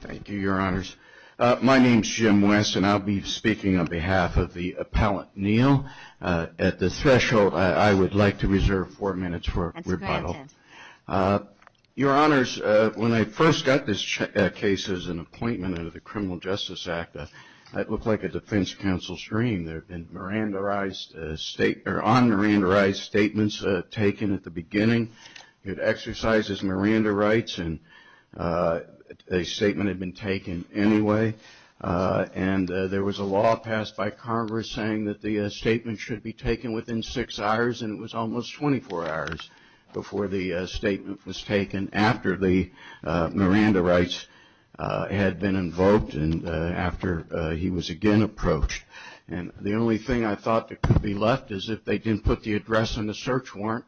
Thank you, your honors. My name is Jim West and I'll be speaking on behalf of the appellant, Neal. At this threshold, I would like to reserve four minutes for rebuttal. Your honors, when I first got this case as an appointment under the Criminal Justice Act, it looked like a defense counsel's dream. And there have been on-mirandarized statements taken at the beginning. It exercises mirandarites and a statement had been taken anyway. And there was a law passed by Congress saying that the statement should be taken within six hours, and it was almost 24 hours before the statement was taken, after the mirandarites had been invoked and after he was again approached. And the only thing I thought that could be left is if they didn't put the address on the search warrant.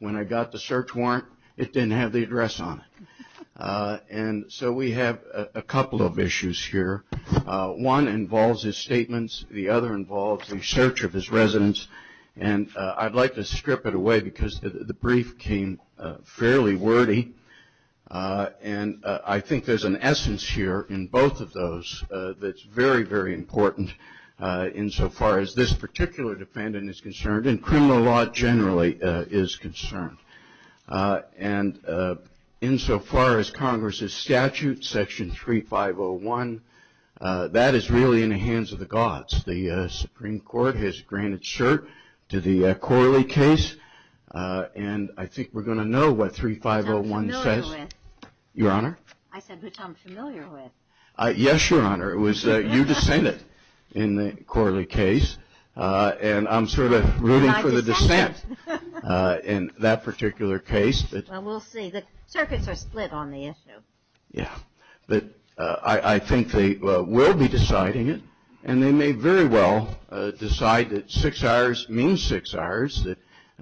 When I got the search warrant, it didn't have the address on it. And so we have a couple of issues here. One involves his statements. The other involves the search of his residence. And I'd like to strip it away because the brief came fairly wordy. And I think there's an essence here in both of those that's very, very important insofar as this particular defendant is concerned and criminal law generally is concerned. And insofar as Congress's statute, Section 3501, that is really in the hands of the gods. The Supreme Court has granted cert to the Corley case, and I think we're going to know what 3501 says. Your Honor? I said which I'm familiar with. Yes, Your Honor. It was you dissented in the Corley case, and I'm sort of rooting for the dissent in that particular case. Well, we'll see. The circuits are split on the issue. Yeah. But I think they will be deciding it, and they may very well decide that six hours means six hours,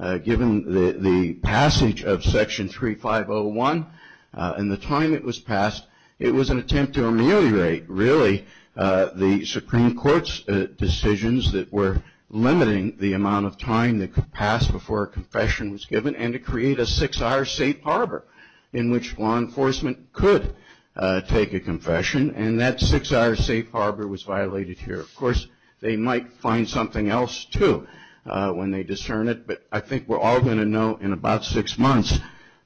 that given the passage of Section 3501 and the time it was passed, it was an attempt to ameliorate, really, the Supreme Court's decisions that were limiting the amount of time that could pass before a confession was given and to create a six-hour safe harbor in which law enforcement could take a confession. And that six-hour safe harbor was violated here. Of course, they might find something else, too, when they discern it. But I think we're all going to know in about six months.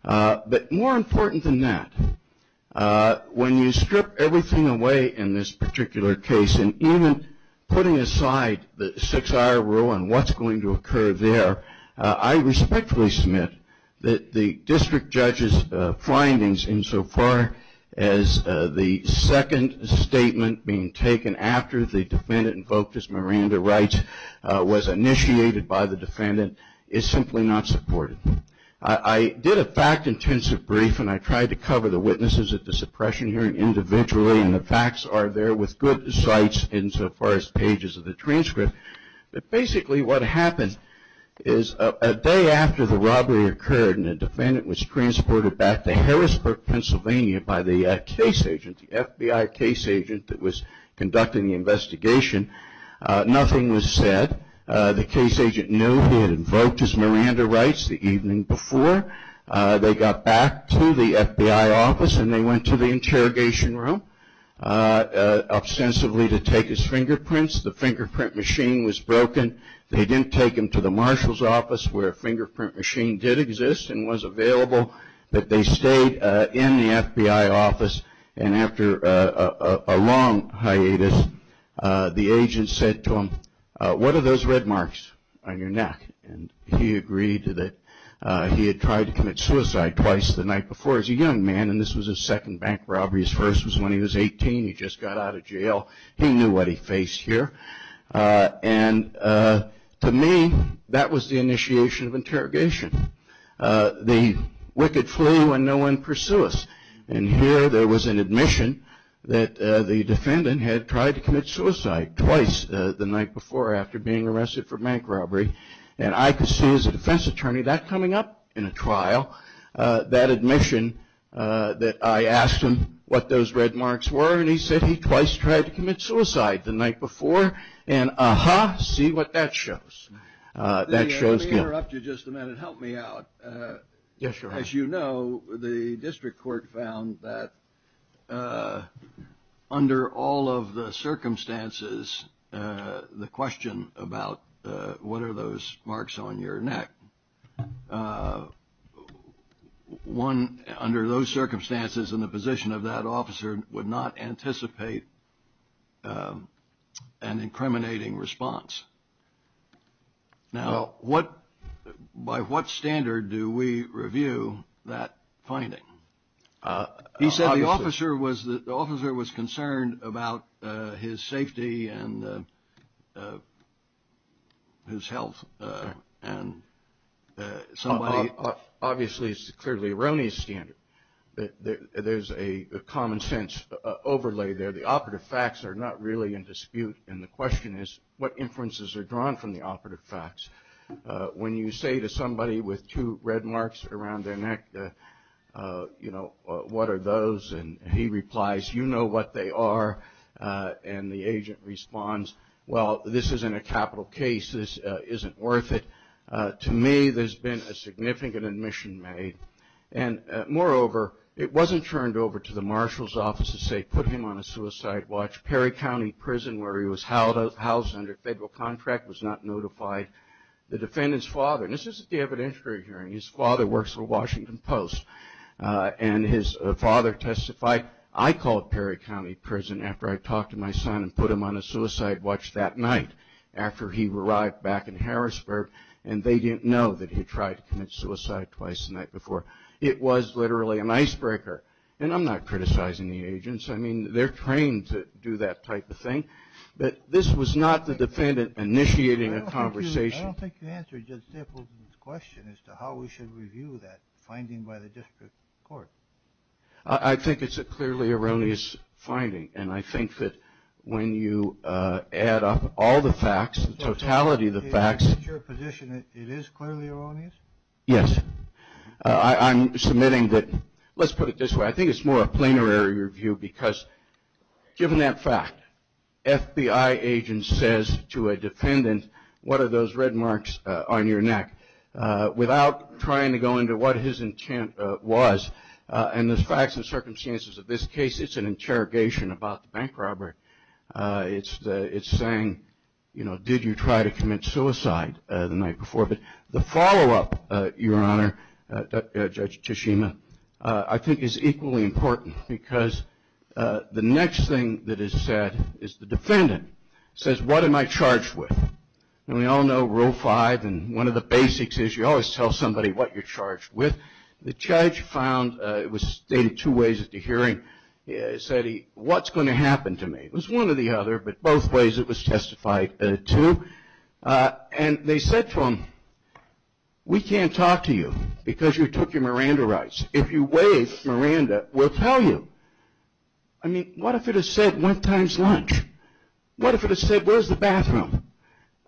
But more important than that, when you strip everything away in this particular case, and even putting aside the six-hour rule and what's going to occur there, I respectfully submit that the district judge's findings insofar as the second statement being taken after the defendant invoked his Miranda rights was initiated by the defendant, is simply not supported. I did a fact-intensive brief, and I tried to cover the witnesses at the suppression hearing individually. And the facts are there with good sights insofar as pages of the transcript. But basically, what happened is a day after the robbery occurred and the defendant was transported back to Harrisburg, Pennsylvania, by the FBI case agent that was conducting the investigation, nothing was said. The case agent knew he had invoked his Miranda rights the evening before. They got back to the FBI office, and they went to the interrogation room, ostensibly to take his fingerprints. The fingerprint machine was broken. They didn't take him to the marshal's office where a fingerprint machine did exist and was available. But they stayed in the FBI office, and after a long hiatus, the agent said to him, what are those red marks on your neck? And he agreed that he had tried to commit suicide twice the night before as a young man, and this was his second bank robbery. His first was when he was 18. He just got out of jail. He knew what he faced here. And to me, that was the initiation of interrogation. The wicked flu when no one pursues. And here, there was an admission that the defendant had tried to commit suicide twice the night before after being arrested for bank robbery, and I could see as a defense attorney that coming up in a trial, that admission that I asked him what those red marks were, and he said he twice tried to commit suicide the night before, and ah-ha, see what that shows. That shows guilt. If I could interrupt you just a minute, help me out. Yes, Your Honor. As you know, the district court found that under all of the circumstances, the question about what are those marks on your neck, one under those circumstances and the position of that officer would not anticipate an incriminating response. Now, by what standard do we review that finding? He said the officer was concerned about his safety and his health, and somebody... Obviously, it's clearly Roney's standard. There's a common sense overlay there. The operative facts are not really in dispute, and the question is what inference is drawn from the operative facts. When you say to somebody with two red marks around their neck, you know, what are those, and he replies, you know what they are, and the agent responds, well, this isn't a capital case, this isn't worth it. To me, there's been a significant admission made, and moreover, it wasn't turned over to the marshal's office to say put him on a suicide watch. Perry County Prison, where he was housed under federal contract, was not notified. The defendant's father, and this is at the evidentiary hearing, his father works for Washington Post, and his father testified, I called Perry County Prison after I talked to my son and put him on a suicide watch that night after he arrived back in Harrisburg, and they didn't know that he tried to commit suicide twice the night before. It was literally an icebreaker, and I'm not criticizing the agents. I mean, they're trained to do that type of thing, but this was not the defendant initiating a conversation. I don't think you answered Judge Stapleton's question as to how we should review that finding by the district court. I think it's a clearly erroneous finding, and I think that when you add up all the facts, the totality of the facts. In your position, it is clearly erroneous? Yes. I'm submitting that, let's put it this way, I think it's more a plenary review because given that fact, FBI agents says to a defendant, what are those red marks on your neck? Without trying to go into what his intent was and the facts and circumstances of this case, it's an interrogation about the bank robber. It's saying, you know, did you try to commit suicide the night before? But the follow-up, Your Honor, Judge Tishima, I think is equally important because the next thing that is said is the defendant says, what am I charged with? And we all know Rule 5, and one of the basics is you always tell somebody what you're charged with. The judge found, it was stated two ways at the hearing, he said, what's going to happen to me? It was one or the other, but both ways it was testified to. And they said to him, we can't talk to you because you took your Miranda rights. If you waive Miranda, we'll tell you. I mean, what if it had said one time's lunch? What if it had said, where's the bathroom?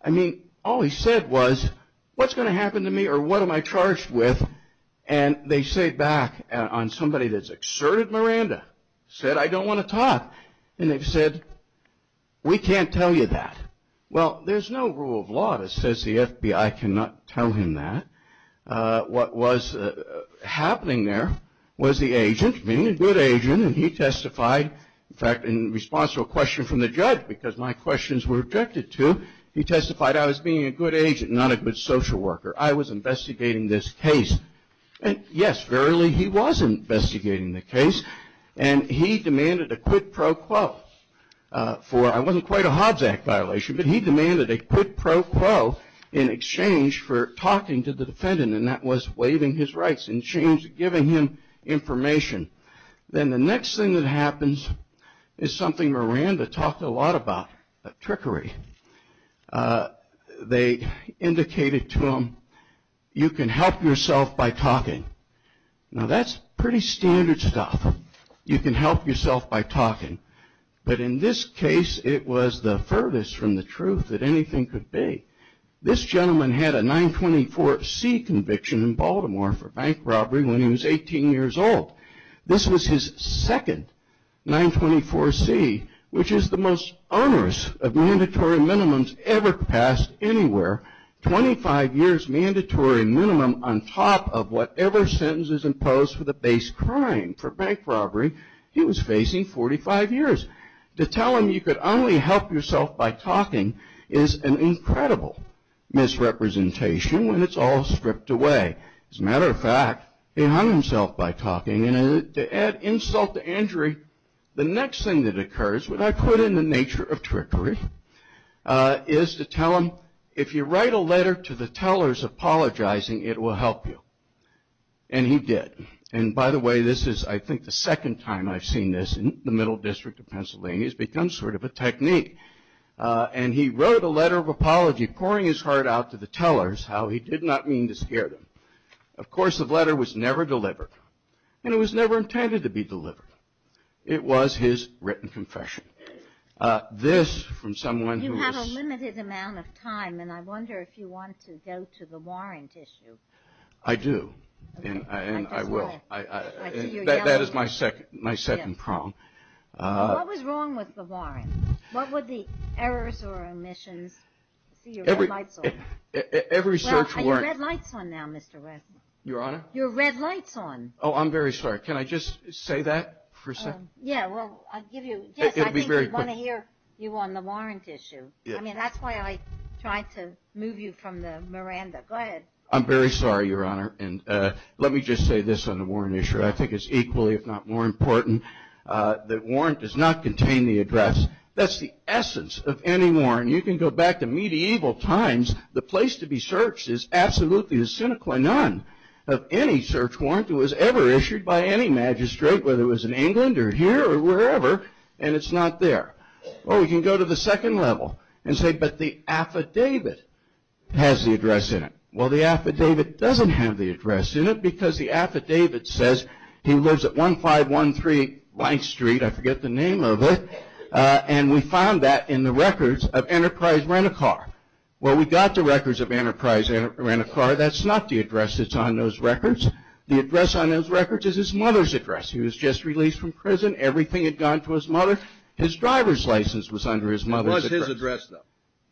I mean, all he said was, what's going to happen to me or what am I charged with? And they say back on somebody that's exerted Miranda, said, I don't want to talk. And they've said, we can't tell you that. Well, there's no rule of law that says the FBI cannot tell him that. What was happening there was the agent, being a good agent, and he testified, in fact, in response to a question from the judge, because my questions were objected to, he testified I was being a good agent, not a good social worker. I was investigating this case. And yes, verily, he was investigating the case. And he demanded a quid pro quo for, it wasn't quite a Hobbs Act violation, but he demanded a quid pro quo in exchange for talking to the defendant. And that was waiving his rights in exchange for giving him information. Then the next thing that happens is something Miranda talked a lot about, trickery. They indicated to him, you can help yourself by talking. Now, that's pretty standard stuff. You can help yourself by talking. But in this case, it was the furthest from the truth that anything could be. This gentleman had a 924C conviction in Baltimore for bank robbery when he was 18 years old. This was his second 924C, which is the most onerous of mandatory minimums ever passed anywhere. 25 years mandatory minimum on top of whatever sentence is imposed for the base crime for bank robbery he was facing, 45 years. To tell him you could only help yourself by talking is an incredible misrepresentation when it's all stripped away. As a matter of fact, he hung himself by talking. And to add insult to injury, the next thing that occurs, what I put in the nature of trickery, is to tell him, if you write a letter to the tellers apologizing, it will help you. And he did. And by the way, this is, I think, the second time I've seen this in the middle district of Pennsylvania. It's become sort of a technique. And he wrote a letter of apology, pouring his heart out to the tellers, how he did not mean to scare them. Of course, the letter was never delivered. And it was never intended to be delivered. It was his written confession. This, from someone who was- You have a limited amount of time. And I wonder if you want to go to the warrant issue. I do. And I will. I see you're yelling. That is my second prong. What was wrong with the warrant? What were the errors or omissions? I see your red lights on. Every search warrant- Well, are your red lights on now, Mr. Reznor? Your Honor? Your red lights on. Oh, I'm very sorry. Can I just say that for a second? Yeah, well, I'll give you- It'll be very quick. Yes, I think we want to hear you on the warrant issue. I mean, that's why I tried to move you from the Miranda. Go ahead. I'm very sorry, Your Honor. And let me just say this on the warrant issue. I think it's equally, if not more important, that warrant does not contain the address. That's the essence of any warrant. You can go back to medieval times. The place to be searched is absolutely the sine qua non of any search warrant that was ever issued by any magistrate, whether it was in England or here or wherever. And it's not there. Or we can go to the second level and say, but the affidavit has the address in it. Well, the affidavit doesn't have the address in it because the affidavit says he lives at 1513 Blank Street. I forget the name of it. And we found that in the records of Enterprise Rent-A-Car. Well, we got the records of Enterprise Rent-A-Car. That's not the address that's on those records. The address on those records is his mother's address. He was just released from prison. Everything had gone to his mother. His driver's license was under his mother's address. It was his address, though.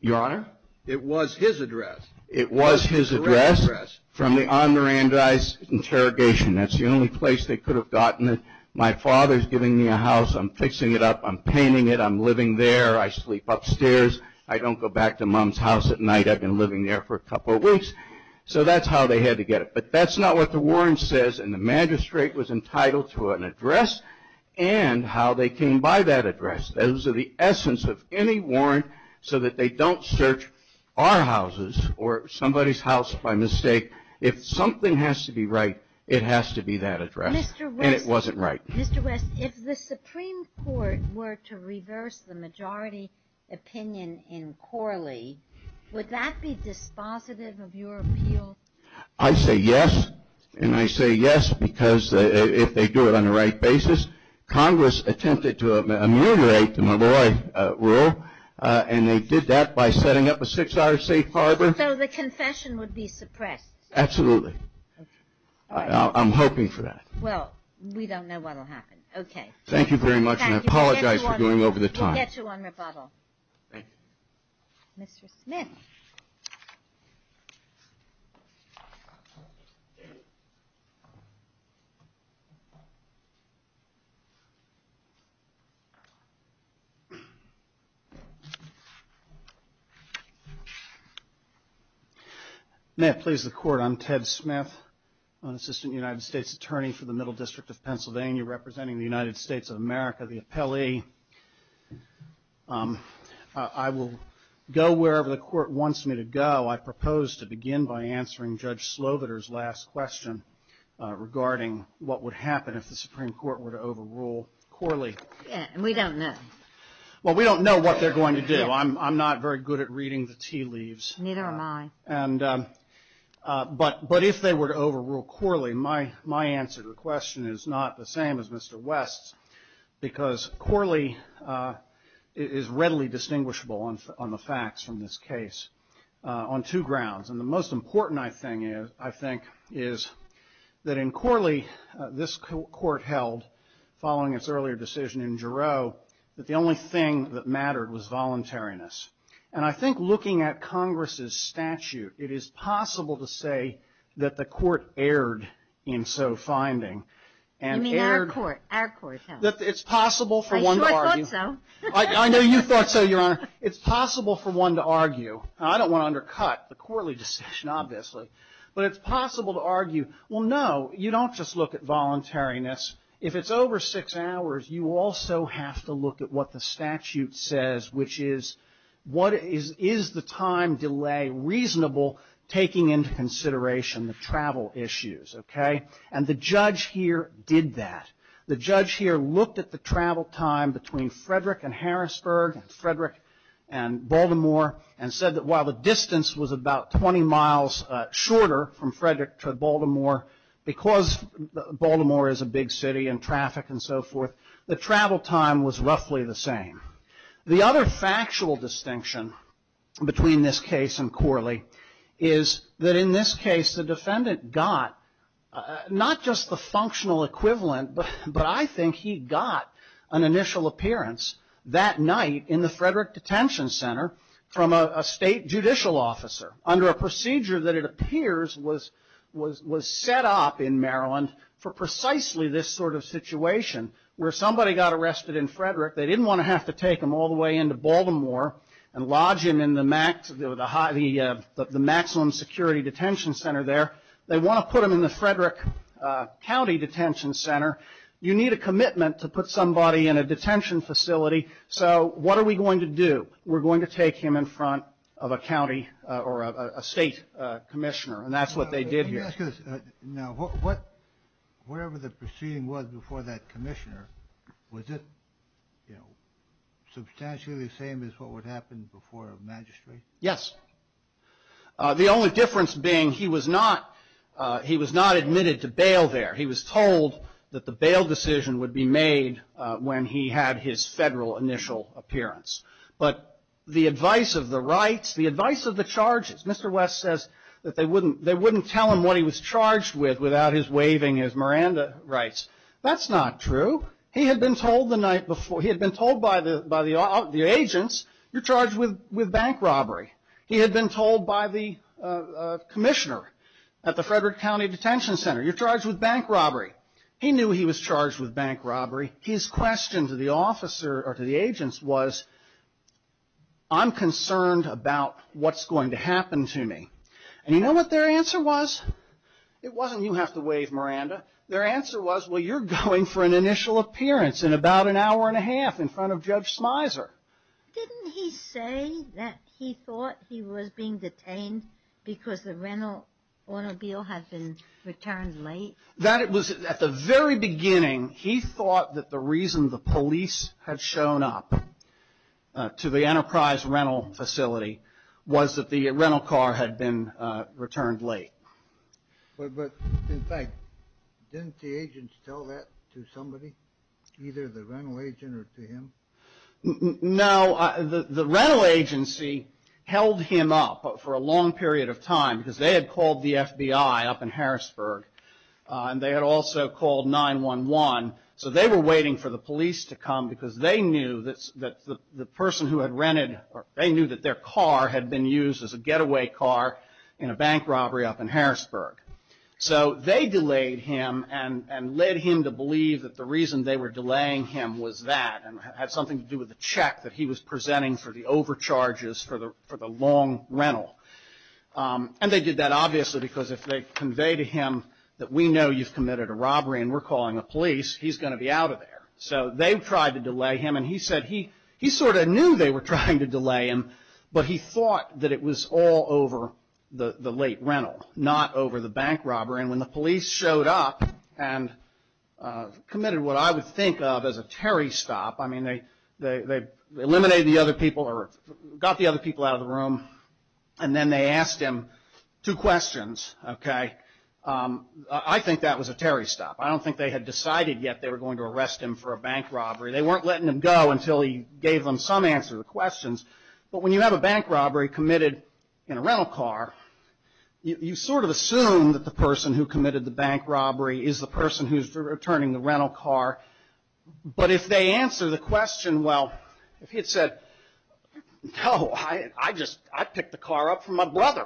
Your Honor? It was his address. It was his address from the on-Mirandize interrogation. That's the only place they could have gotten it. My father's giving me a house. I'm fixing it up. I'm painting it. I'm living there. I sleep upstairs. I don't go back to Mom's house at night. I've been living there for a couple of weeks. So that's how they had to get it. But that's not what the warrant says. And the magistrate was entitled to an address and how they came by that address. Those are the essence of any warrant so that they don't search our houses or somebody's house by mistake. If something has to be right, it has to be that address. Mr. West. And it wasn't right. Mr. West, if the Supreme Court were to reverse the majority opinion in Corley, would that be dispositive of your appeal? I say yes. And I say yes because if they do it on the right basis, Congress attempted to ameliorate the Malloy rule and they did that by setting up a six-hour safe harbor. So the confession would be suppressed? Absolutely. I'm hoping for that. Well, we don't know what will happen. Okay. Thank you very much. And I apologize for going over the time. We'll get you on rebuttal. Thank you. Mr. Smith. May it please the Court. I'm Ted Smith, an Assistant United States Attorney for the Middle District of Pennsylvania, representing the United States of America, the appellee. I will go wherever the Court wants me to go. I propose to begin by answering Judge Sloviter's last question regarding what would happen if the Supreme Court were to overrule Corley. We don't know what they're going to do. I'm not very good at reading the tea leaves. Neither am I. But if they were to overrule Corley, my answer to the question is not the same as Mr. West's because Corley is readily distinguishable on the facts from this case on two grounds. And the most important, I think, is that in Corley, this Court held, following its earlier decision in Giroux, that the only thing that mattered was voluntariness. And I think looking at Congress's statute, it is possible to say that the Court erred in so finding. You mean our Court. Our Court held. It's possible for one to argue. I sure thought so. I know you thought so, Your Honor. It's possible for one to argue. I don't want to undercut the Corley decision, obviously. But it's possible to argue, well, no, you don't just look at voluntariness. If it's over six hours, you also have to look at what the statute says, which is, what is the time delay reasonable taking into consideration the travel issues, okay? And the judge here did that. The judge here looked at the travel time between Frederick and Harrisburg and Frederick and Baltimore and said that while the distance was about 20 miles shorter from Frederick to Baltimore, because Baltimore is a big city and traffic and so forth, the travel time was roughly the same. The other factual distinction between this case and Corley is that in this case, the defendant got not just the functional equivalent, but I think he got an initial appearance that night in the Frederick Detention Center from a state judicial officer under a procedure that it appears was set up in Maryland for precisely this sort of situation where somebody got arrested in Frederick. They didn't want to have to take him all the way into Baltimore and lodge him in the maximum security detention center there. They want to put him in the Frederick County Detention Center. You need a commitment to put somebody in a detention facility. So what are we going to do? We're going to take him in front of a county or a state commissioner, and that's what they did here. Let me ask you this. Now, whatever the proceeding was before that commissioner, was it substantially the same as what would happen before a magistrate? Yes. The only difference being he was not admitted to bail there. He was told that the bail decision would be made when he had his federal initial appearance. But the advice of the rights, the advice of the charges, Mr. West says that they wouldn't tell him what he was charged with without his waving his Miranda rights. That's not true. He had been told the night before, he had been told by the agents, you're charged with bank robbery. He had been told by the commissioner at the Frederick County Detention Center, you're charged with bank robbery. He knew he was charged with bank robbery. His question to the officer or to the agents was, I'm concerned about what's going to happen to me. And you know what their answer was? It wasn't you have to wave Miranda. Their answer was, well, you're going for an initial appearance in about an hour and a half in front of Judge Smizer. Didn't he say that he thought he was being detained because the rental automobile had been returned late? That it was at the very beginning, he thought that the reason the police had shown up to the Enterprise rental facility was that the rental car had been returned late. But in fact, didn't the agents tell that to somebody? Either the rental agent or to him? No, the rental agency held him up for a long period of time because they had called the FBI up in Harrisburg and they had also called 911. So they were waiting for the police to come because they knew that the person who had rented, they knew that their car had been used as a getaway car in a bank robbery up in Harrisburg. So they delayed him and led him to believe that the reason they were delaying him was that and had something to do with the check that he was presenting for the overcharges for the long rental. And they did that, obviously, because if they convey to him that we know you've committed a robbery and we're calling the police, he's going to be out of there. So they tried to delay him. And he said he sort of knew they were trying to delay him, but he thought that it was all over the late rental, not over the bank robbery. And when the police showed up and committed what I would think of as a Terry stop, I mean, they eliminated the other people or got the other people out of the room and then they asked him two questions, okay? I think that was a Terry stop. I don't think they had decided yet they were going to arrest him for a bank robbery. They weren't letting him go until he gave them some answer to the questions. But when you have a bank robbery committed in a rental car, you sort of assume that the person who committed the bank robbery is the person who's returning the rental car. But if they answer the question, well, if he had said, no, I just, I picked the car up for my brother.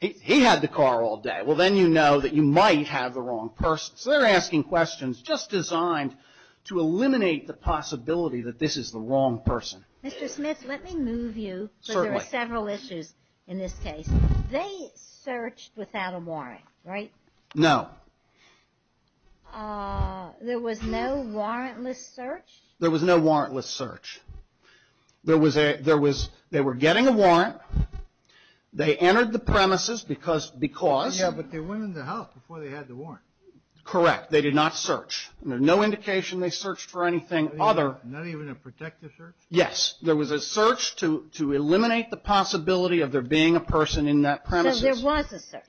He had the car all day. Well, then you know that you might have the wrong person. So they're asking questions just designed to eliminate the possibility that this is the wrong person. Mr. Smith, let me move you, because there are several issues in this case. They searched without a warrant, right? No. There was no warrantless search? There was no warrantless search. They were getting a warrant. They entered the premises because... Yeah, but they went into the house before they had the warrant. Correct, they did not search. There's no indication they searched for anything other. Not even a protective search? Yes, there was a search to eliminate the possibility of there being a person in that premises. So there was a search?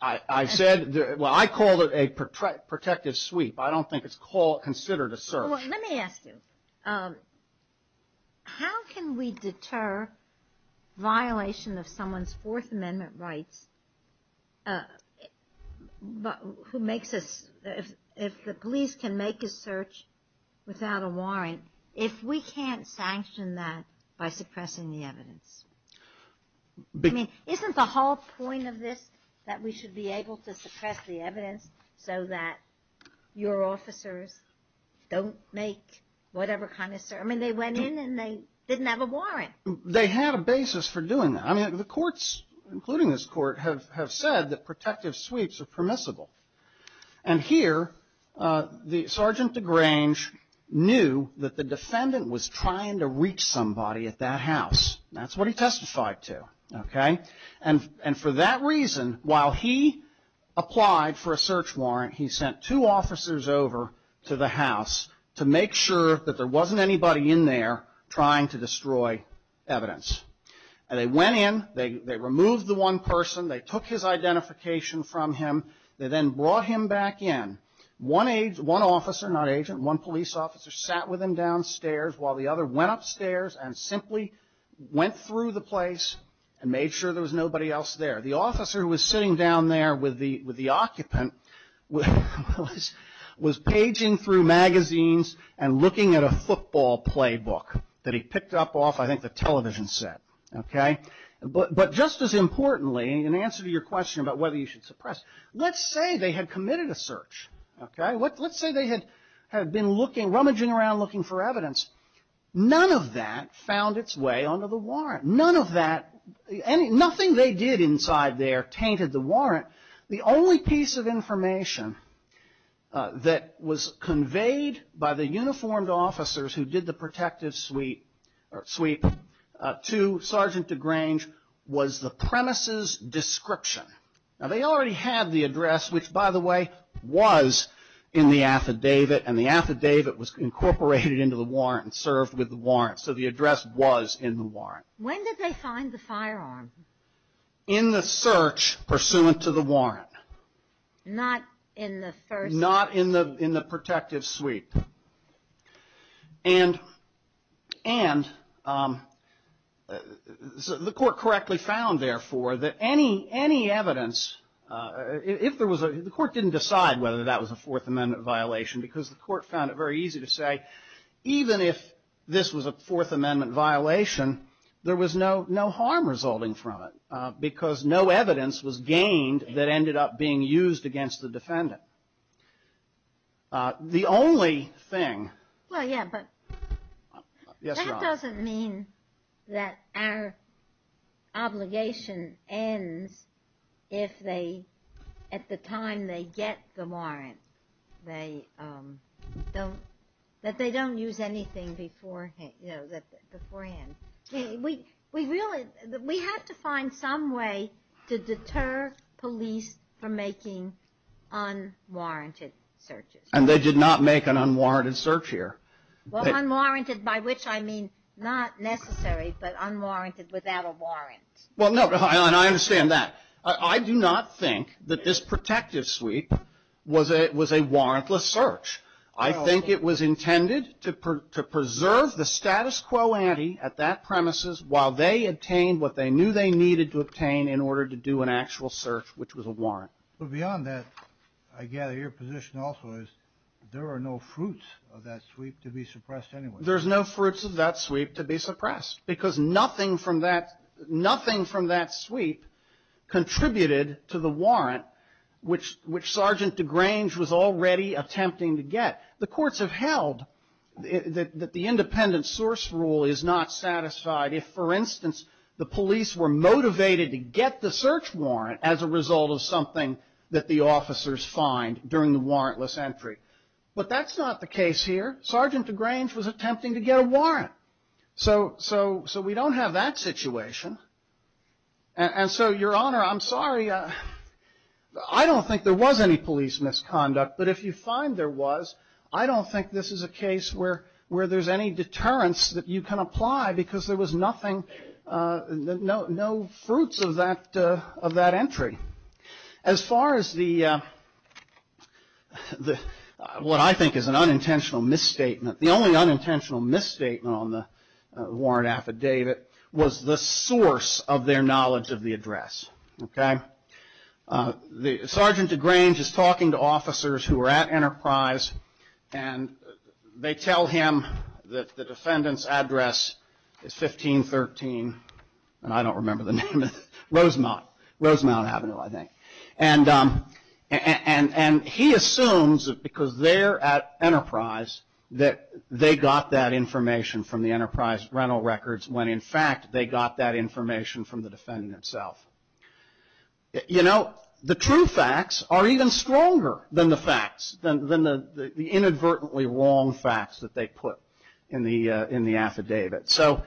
I said, well, I called it a protective sweep. I don't think it's considered a search. Let me ask you, how can we deter violation of someone's Fourth Amendment rights who makes us, if the police can make a search without a warrant, if we can't sanction that by suppressing the evidence? I mean, isn't the whole point of this that we should be able to suppress the evidence so that your officers don't make whatever kind of search? I mean, they went in and they didn't have a warrant. They had a basis for doing that. I mean, the courts, including this court, have said that protective sweeps are permissible. And here, the Sergeant DeGrange knew that the defendant was trying to reach somebody at that house. That's what he testified to. Okay? And for that reason, while he applied for a search warrant, he sent two officers over to the house to make sure that there wasn't anybody in there trying to destroy evidence. And they went in, they removed the one person, they took his identification from him, they then brought him back in. One officer, not agent, one police officer, sat with him downstairs while the other went upstairs and simply went through the place and made sure there was nobody else there. The officer who was sitting down there with the occupant was paging through magazines and looking at a football playbook that he picked up off, I think, the television set. Okay? But just as importantly, in answer to your question about whether you should suppress, let's say they had committed a search. Okay? Let's say they had been rummaging around looking for evidence. None of that found its way onto the warrant. None of that, nothing they did inside there tainted the warrant. The only piece of information that was conveyed by the uniformed officers who did the protective sweep to Sergeant DeGrange was the premise's description. Now, they already had the address, which, by the way, was in the affidavit. And the affidavit was incorporated into the warrant and served with the warrant. So the address was in the warrant. When did they find the firearm? In the search pursuant to the warrant. Not in the first? Not in the protective sweep. And the court correctly found, therefore, that any evidence, if there was a, the court didn't decide whether that was a Fourth Amendment violation because the court found it very easy to say even if this was a Fourth Amendment violation, there was no harm resulting from it because no evidence was gained that ended up being used against the defendant. The only thing. Well, yeah, but that doesn't mean that our obligation ends if they, at the time they get the warrant, they don't, that they don't use anything beforehand. We really, we have to find some way to deter police from making unwarranted searches. And they did not make an unwarranted search here. Well, unwarranted by which I mean not necessary, but unwarranted without a warrant. Well, no, and I understand that. I do not think that this protective sweep was a warrantless search. I think it was intended to preserve the status quo ante at that premises while they obtained what they knew they needed to obtain in order to do an actual search, which was a warrant. But beyond that, I gather your position also is there are no fruits of that sweep to be suppressed anyway. There's no fruits of that sweep to be suppressed because nothing from that, nothing from that sweep contributed to the warrant which, which Sergeant DeGrange was already attempting to get. The courts have held that the independent source rule is not satisfied if, for instance, the police were motivated to get the search warrant as a result of something that the officers find during the warrantless entry. But that's not the case here. Sergeant DeGrange was attempting to get a warrant. So, so, so we don't have that situation. And so, Your Honor, I'm sorry. I don't think there was any police misconduct. But if you find there was, I don't think this is a case where, where there's any deterrence that you can apply because there was nothing, no, no fruits of that, of that entry. As far as the, the, what I think is an unintentional misstatement, the only unintentional misstatement on the warrant affidavit was the source of their knowledge of the address, okay? The Sergeant DeGrange is talking to officers who are at Enterprise and they tell him that the defendant's address is 1513, and I don't remember the name of it, Rosemount, Rosemount Avenue, I think. And, and he assumes that because they're at Enterprise that they got that information from the Enterprise rental records when in fact they got that information from the defendant himself. You know, the true facts are even stronger than the facts, than the inadvertently wrong facts that they put in the, in the affidavit. So,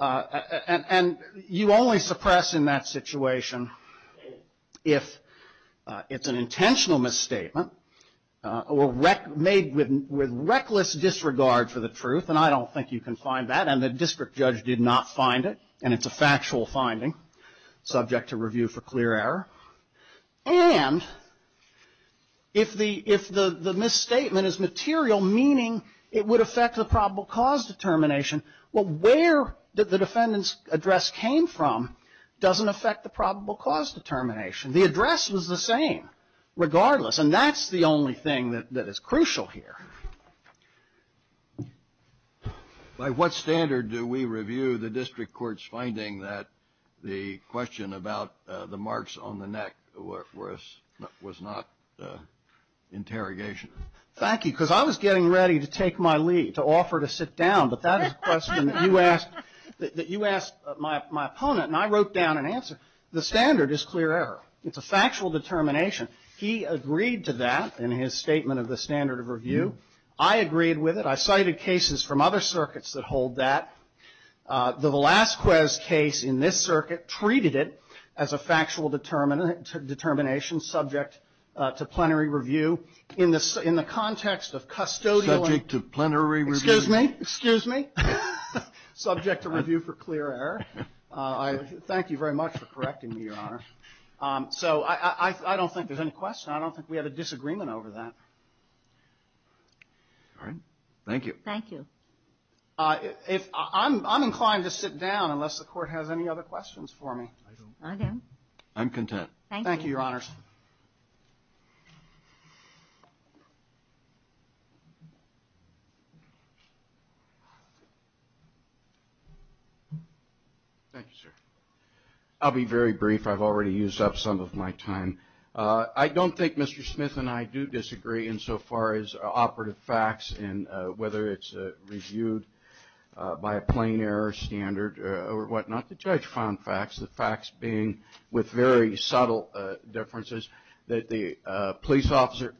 and you only suppress in that situation if it's an intentional misstatement or rec, made with, with reckless disregard for the truth, and I don't think you can find that, and the district judge did not find it, and it's a factual finding, subject to review for clear error. And if the, if the, the misstatement is material, meaning it would affect the probable cause determination, well, where the defendant's address came from doesn't affect the probable cause determination. The address was the same, regardless, and that's the only thing that, that is crucial here. By what standard do we review the district court's finding that the question about the marks on the neck was not interrogation? Thank you, because I was getting ready to take my leave, to offer to sit down, but that is a question that you asked, that you asked my, my opponent, and I wrote down an answer. The standard is clear error. It's a factual determination. He agreed to that in his statement of the standard of review. I agreed with it. I cited cases from other circuits that hold that. The Velasquez case in this circuit treated it as a factual determinant, determination subject to plenary review in the, in the context of custodial. Subject to plenary review. Excuse me, excuse me. Subject to review for clear error. I thank you very much for correcting me, Your Honor. So I, I, I don't think there's any question. I don't think we had a disagreement over that. All right. Thank you. Thank you. I, if I'm, I'm inclined to sit down unless the court has any other questions for me. I do. I'm content. Thank you, Your Honors. Thank you, sir. I'll be very brief. I've already used up some of my time. I don't think Mr. Smith and I do disagree insofar as operative facts and whether it's reviewed by a plain error standard or whatnot. The judge found facts. The facts being with very subtle differences that the police officer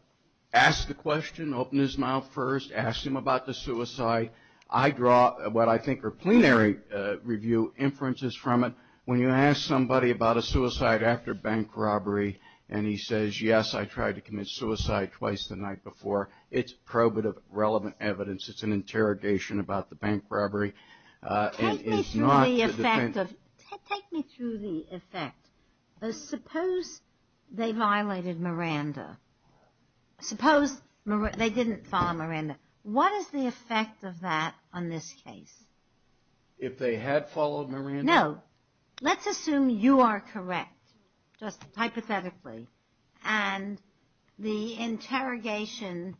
asked the question, opened his mouth first, asked him about the suicide. I draw what I think are plenary review inferences from it. When you ask somebody about a suicide after bank robbery and he says, yes, I tried to commit suicide twice the night before. It's probative relevant evidence. It's an interrogation about the bank robbery. Take me through the effect of, take me through the effect. Suppose they violated Miranda. Suppose they didn't follow Miranda. What is the effect of that on this case? If they had followed Miranda? No. Let's assume you are correct, just hypothetically. And the interrogation,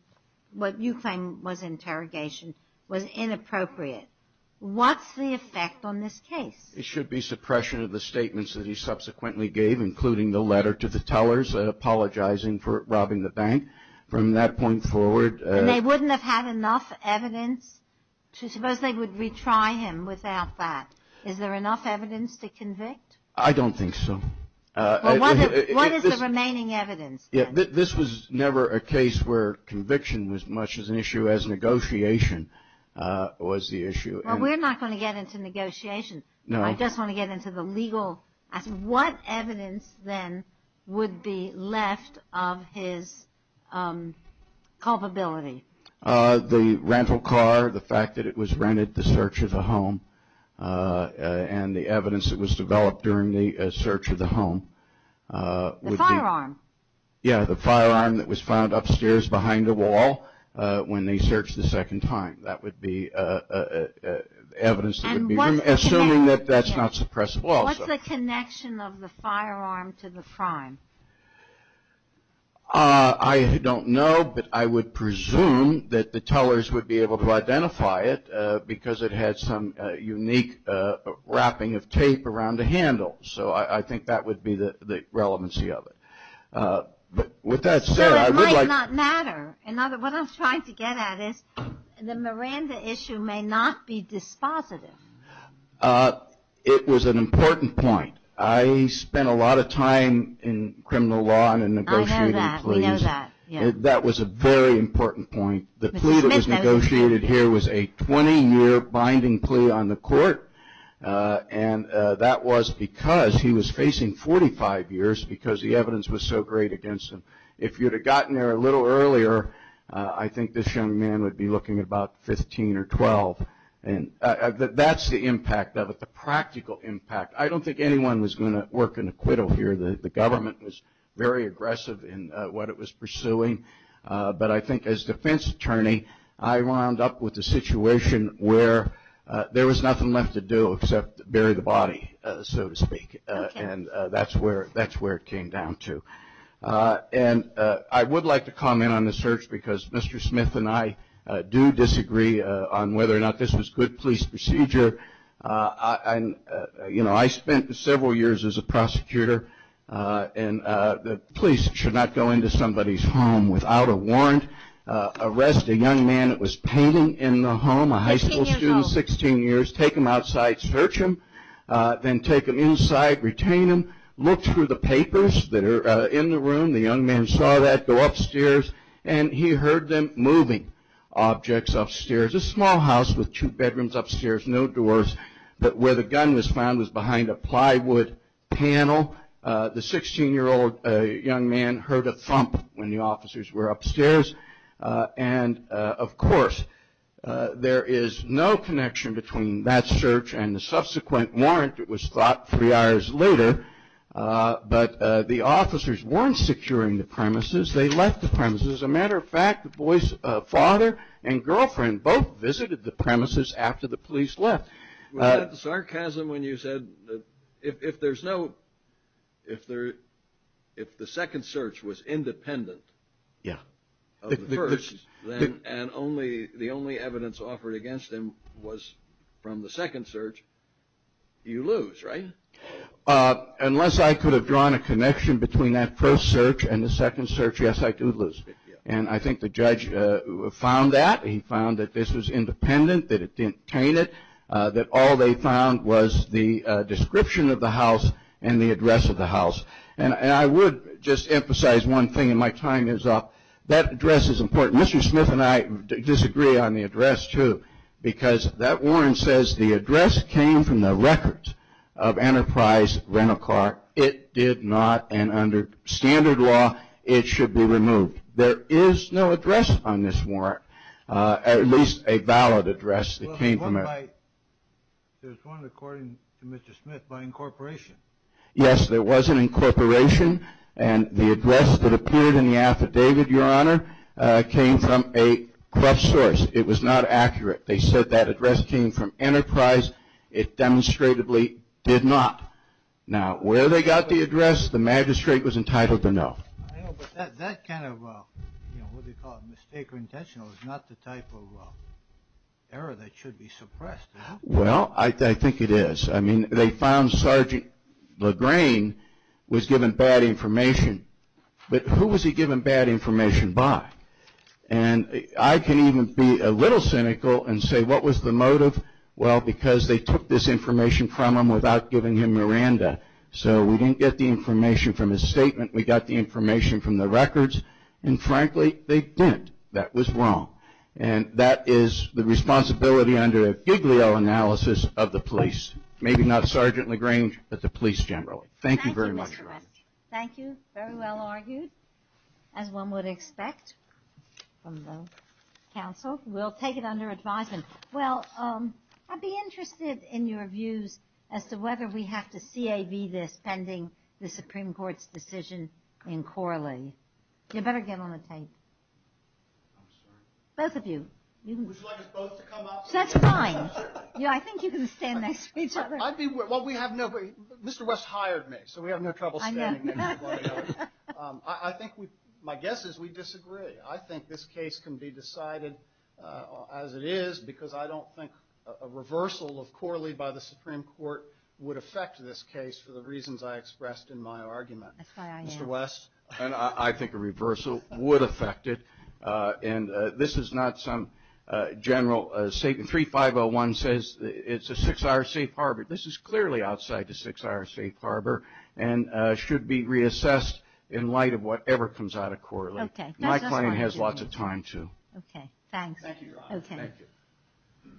what you claim was interrogation, was inappropriate. What's the effect on this case? It should be suppression of the statements that he subsequently gave, including the letter to the tellers apologizing for robbing the bank. From that point forward. They wouldn't have had enough evidence to suppose they would retry him without that. Is there enough evidence to convict? I don't think so. What is the remaining evidence? Yeah, this was never a case where conviction was much as an issue as negotiation was the issue. We're not going to get into negotiation. No. I just want to get into the legal. What evidence then would be left of his culpability? The rental car, the fact that it was rented, the search of the home, and the evidence that was developed during the search of the home. The firearm? Yeah, the firearm that was found upstairs behind the wall when they searched the second time. That would be evidence. Assuming that that's not suppressible also. What's the connection of the firearm to the crime? I don't know, but I would presume that the tellers would be able to identify it because it had some unique wrapping of tape around the handle. So I think that would be the relevancy of it. But with that said, So it might not matter. What I'm trying to get at is the Miranda issue may not be dispositive. It was an important point. I spent a lot of time in criminal law and in negotiating. I know that. We know that. That was a very important point. The plea that was negotiated here was a 20-year binding plea on the court. And that was because he was facing 45 years because the evidence was so great against him. If you'd have gotten there a little earlier, I think this young man would be looking at about 15 or 12. That's the impact of it, the practical impact. I don't think anyone was going to work an acquittal here. The government was very aggressive in what it was pursuing. But I think as defense attorney, I wound up with a situation where there was nothing left to do except bury the body, so to speak. And that's where it came down to. And I would like to comment on the search because Mr. Smith and I do disagree on whether or not this was good police procedure. I spent several years as a prosecutor and the police should not go into somebody's home without a warrant. Arrest a young man that was painting in the home, a high school student, 16 years, take him outside, search him, then take him inside, retain him, look through the papers that are in the room. The young man saw that go upstairs and he heard them moving objects upstairs. A small house with two bedrooms upstairs, no doors, but where the gun was found was behind a plywood panel. The 16-year-old young man heard a thump when the officers were upstairs. And of course, there is no connection between that search and the subsequent warrant that was thought three hours later. But the officers weren't securing the premises. They left the premises. As a matter of fact, the boy's father and girlfriend both visited the premises after the police left. Was that sarcasm when you said if there's no, if the second search was independent of the first, and the only evidence offered against him was from the second search, you lose, right? Unless I could have drawn a connection between that first search and the second search, yes, I do lose. And I think the judge found that. He found that this was independent, that it didn't taint it. That all they found was the description of the house and the address of the house. And I would just emphasize one thing, and my time is up. That address is important. Mr. Smith and I disagree on the address too, because that warrant says the address came from the record of Enterprise Rental Car. It did not, and under standard law, it should be removed. There is no address on this warrant, at least a valid address that came from it. There's one according to Mr. Smith by incorporation. Yes, there was an incorporation, and the address that appeared in the affidavit, Your Honor, came from a corrupt source. It was not accurate. They said that address came from Enterprise. It demonstrably did not. Now, where they got the address, the magistrate was entitled to know. I know, but that kind of, you know, what do you call it, mistake or intentional is not the type of error that should be suppressed. Well, I think it is. I mean, they found Sergeant Lagrain was given bad information, but who was he given bad information by? And I can even be a little cynical and say, what was the motive? Well, because they took this information from him without giving him Miranda, so we didn't get the information from his statement. We got the information from the records, and frankly, they didn't. That was wrong, and that is the responsibility under a giglio analysis of the police. Maybe not Sergeant Lagrain, but the police generally. Thank you very much, Your Honor. Thank you, Mr. West. Thank you. Very well argued, as one would expect from the counsel. We'll take it under advisement. Well, I'd be interested in your views as to whether we have to CAV this pending the Supreme Court's decision in Corley. You better get on the tape. I'm sorry. Both of you. Would you like us both to come up? That's fine. I think you can stand next to each other. I'd be, well, we have nobody. Mr. West hired me, so we have no trouble standing. I know. I think we, my guess is we disagree. I think this case can be decided as it is because I don't think a reversal of Corley by the Supreme Court would affect this case for the reasons I expressed in my argument. That's why I am. Mr. West? And I think a reversal would affect it. And this is not some general statement. 3501 says it's a six-hour safe harbor. This is clearly outside the six-hour safe harbor and should be reassessed in light of whatever comes out of Corley. Okay. My client has lots of time, too. Okay, thanks. Thank you, Your Honor. Thank you.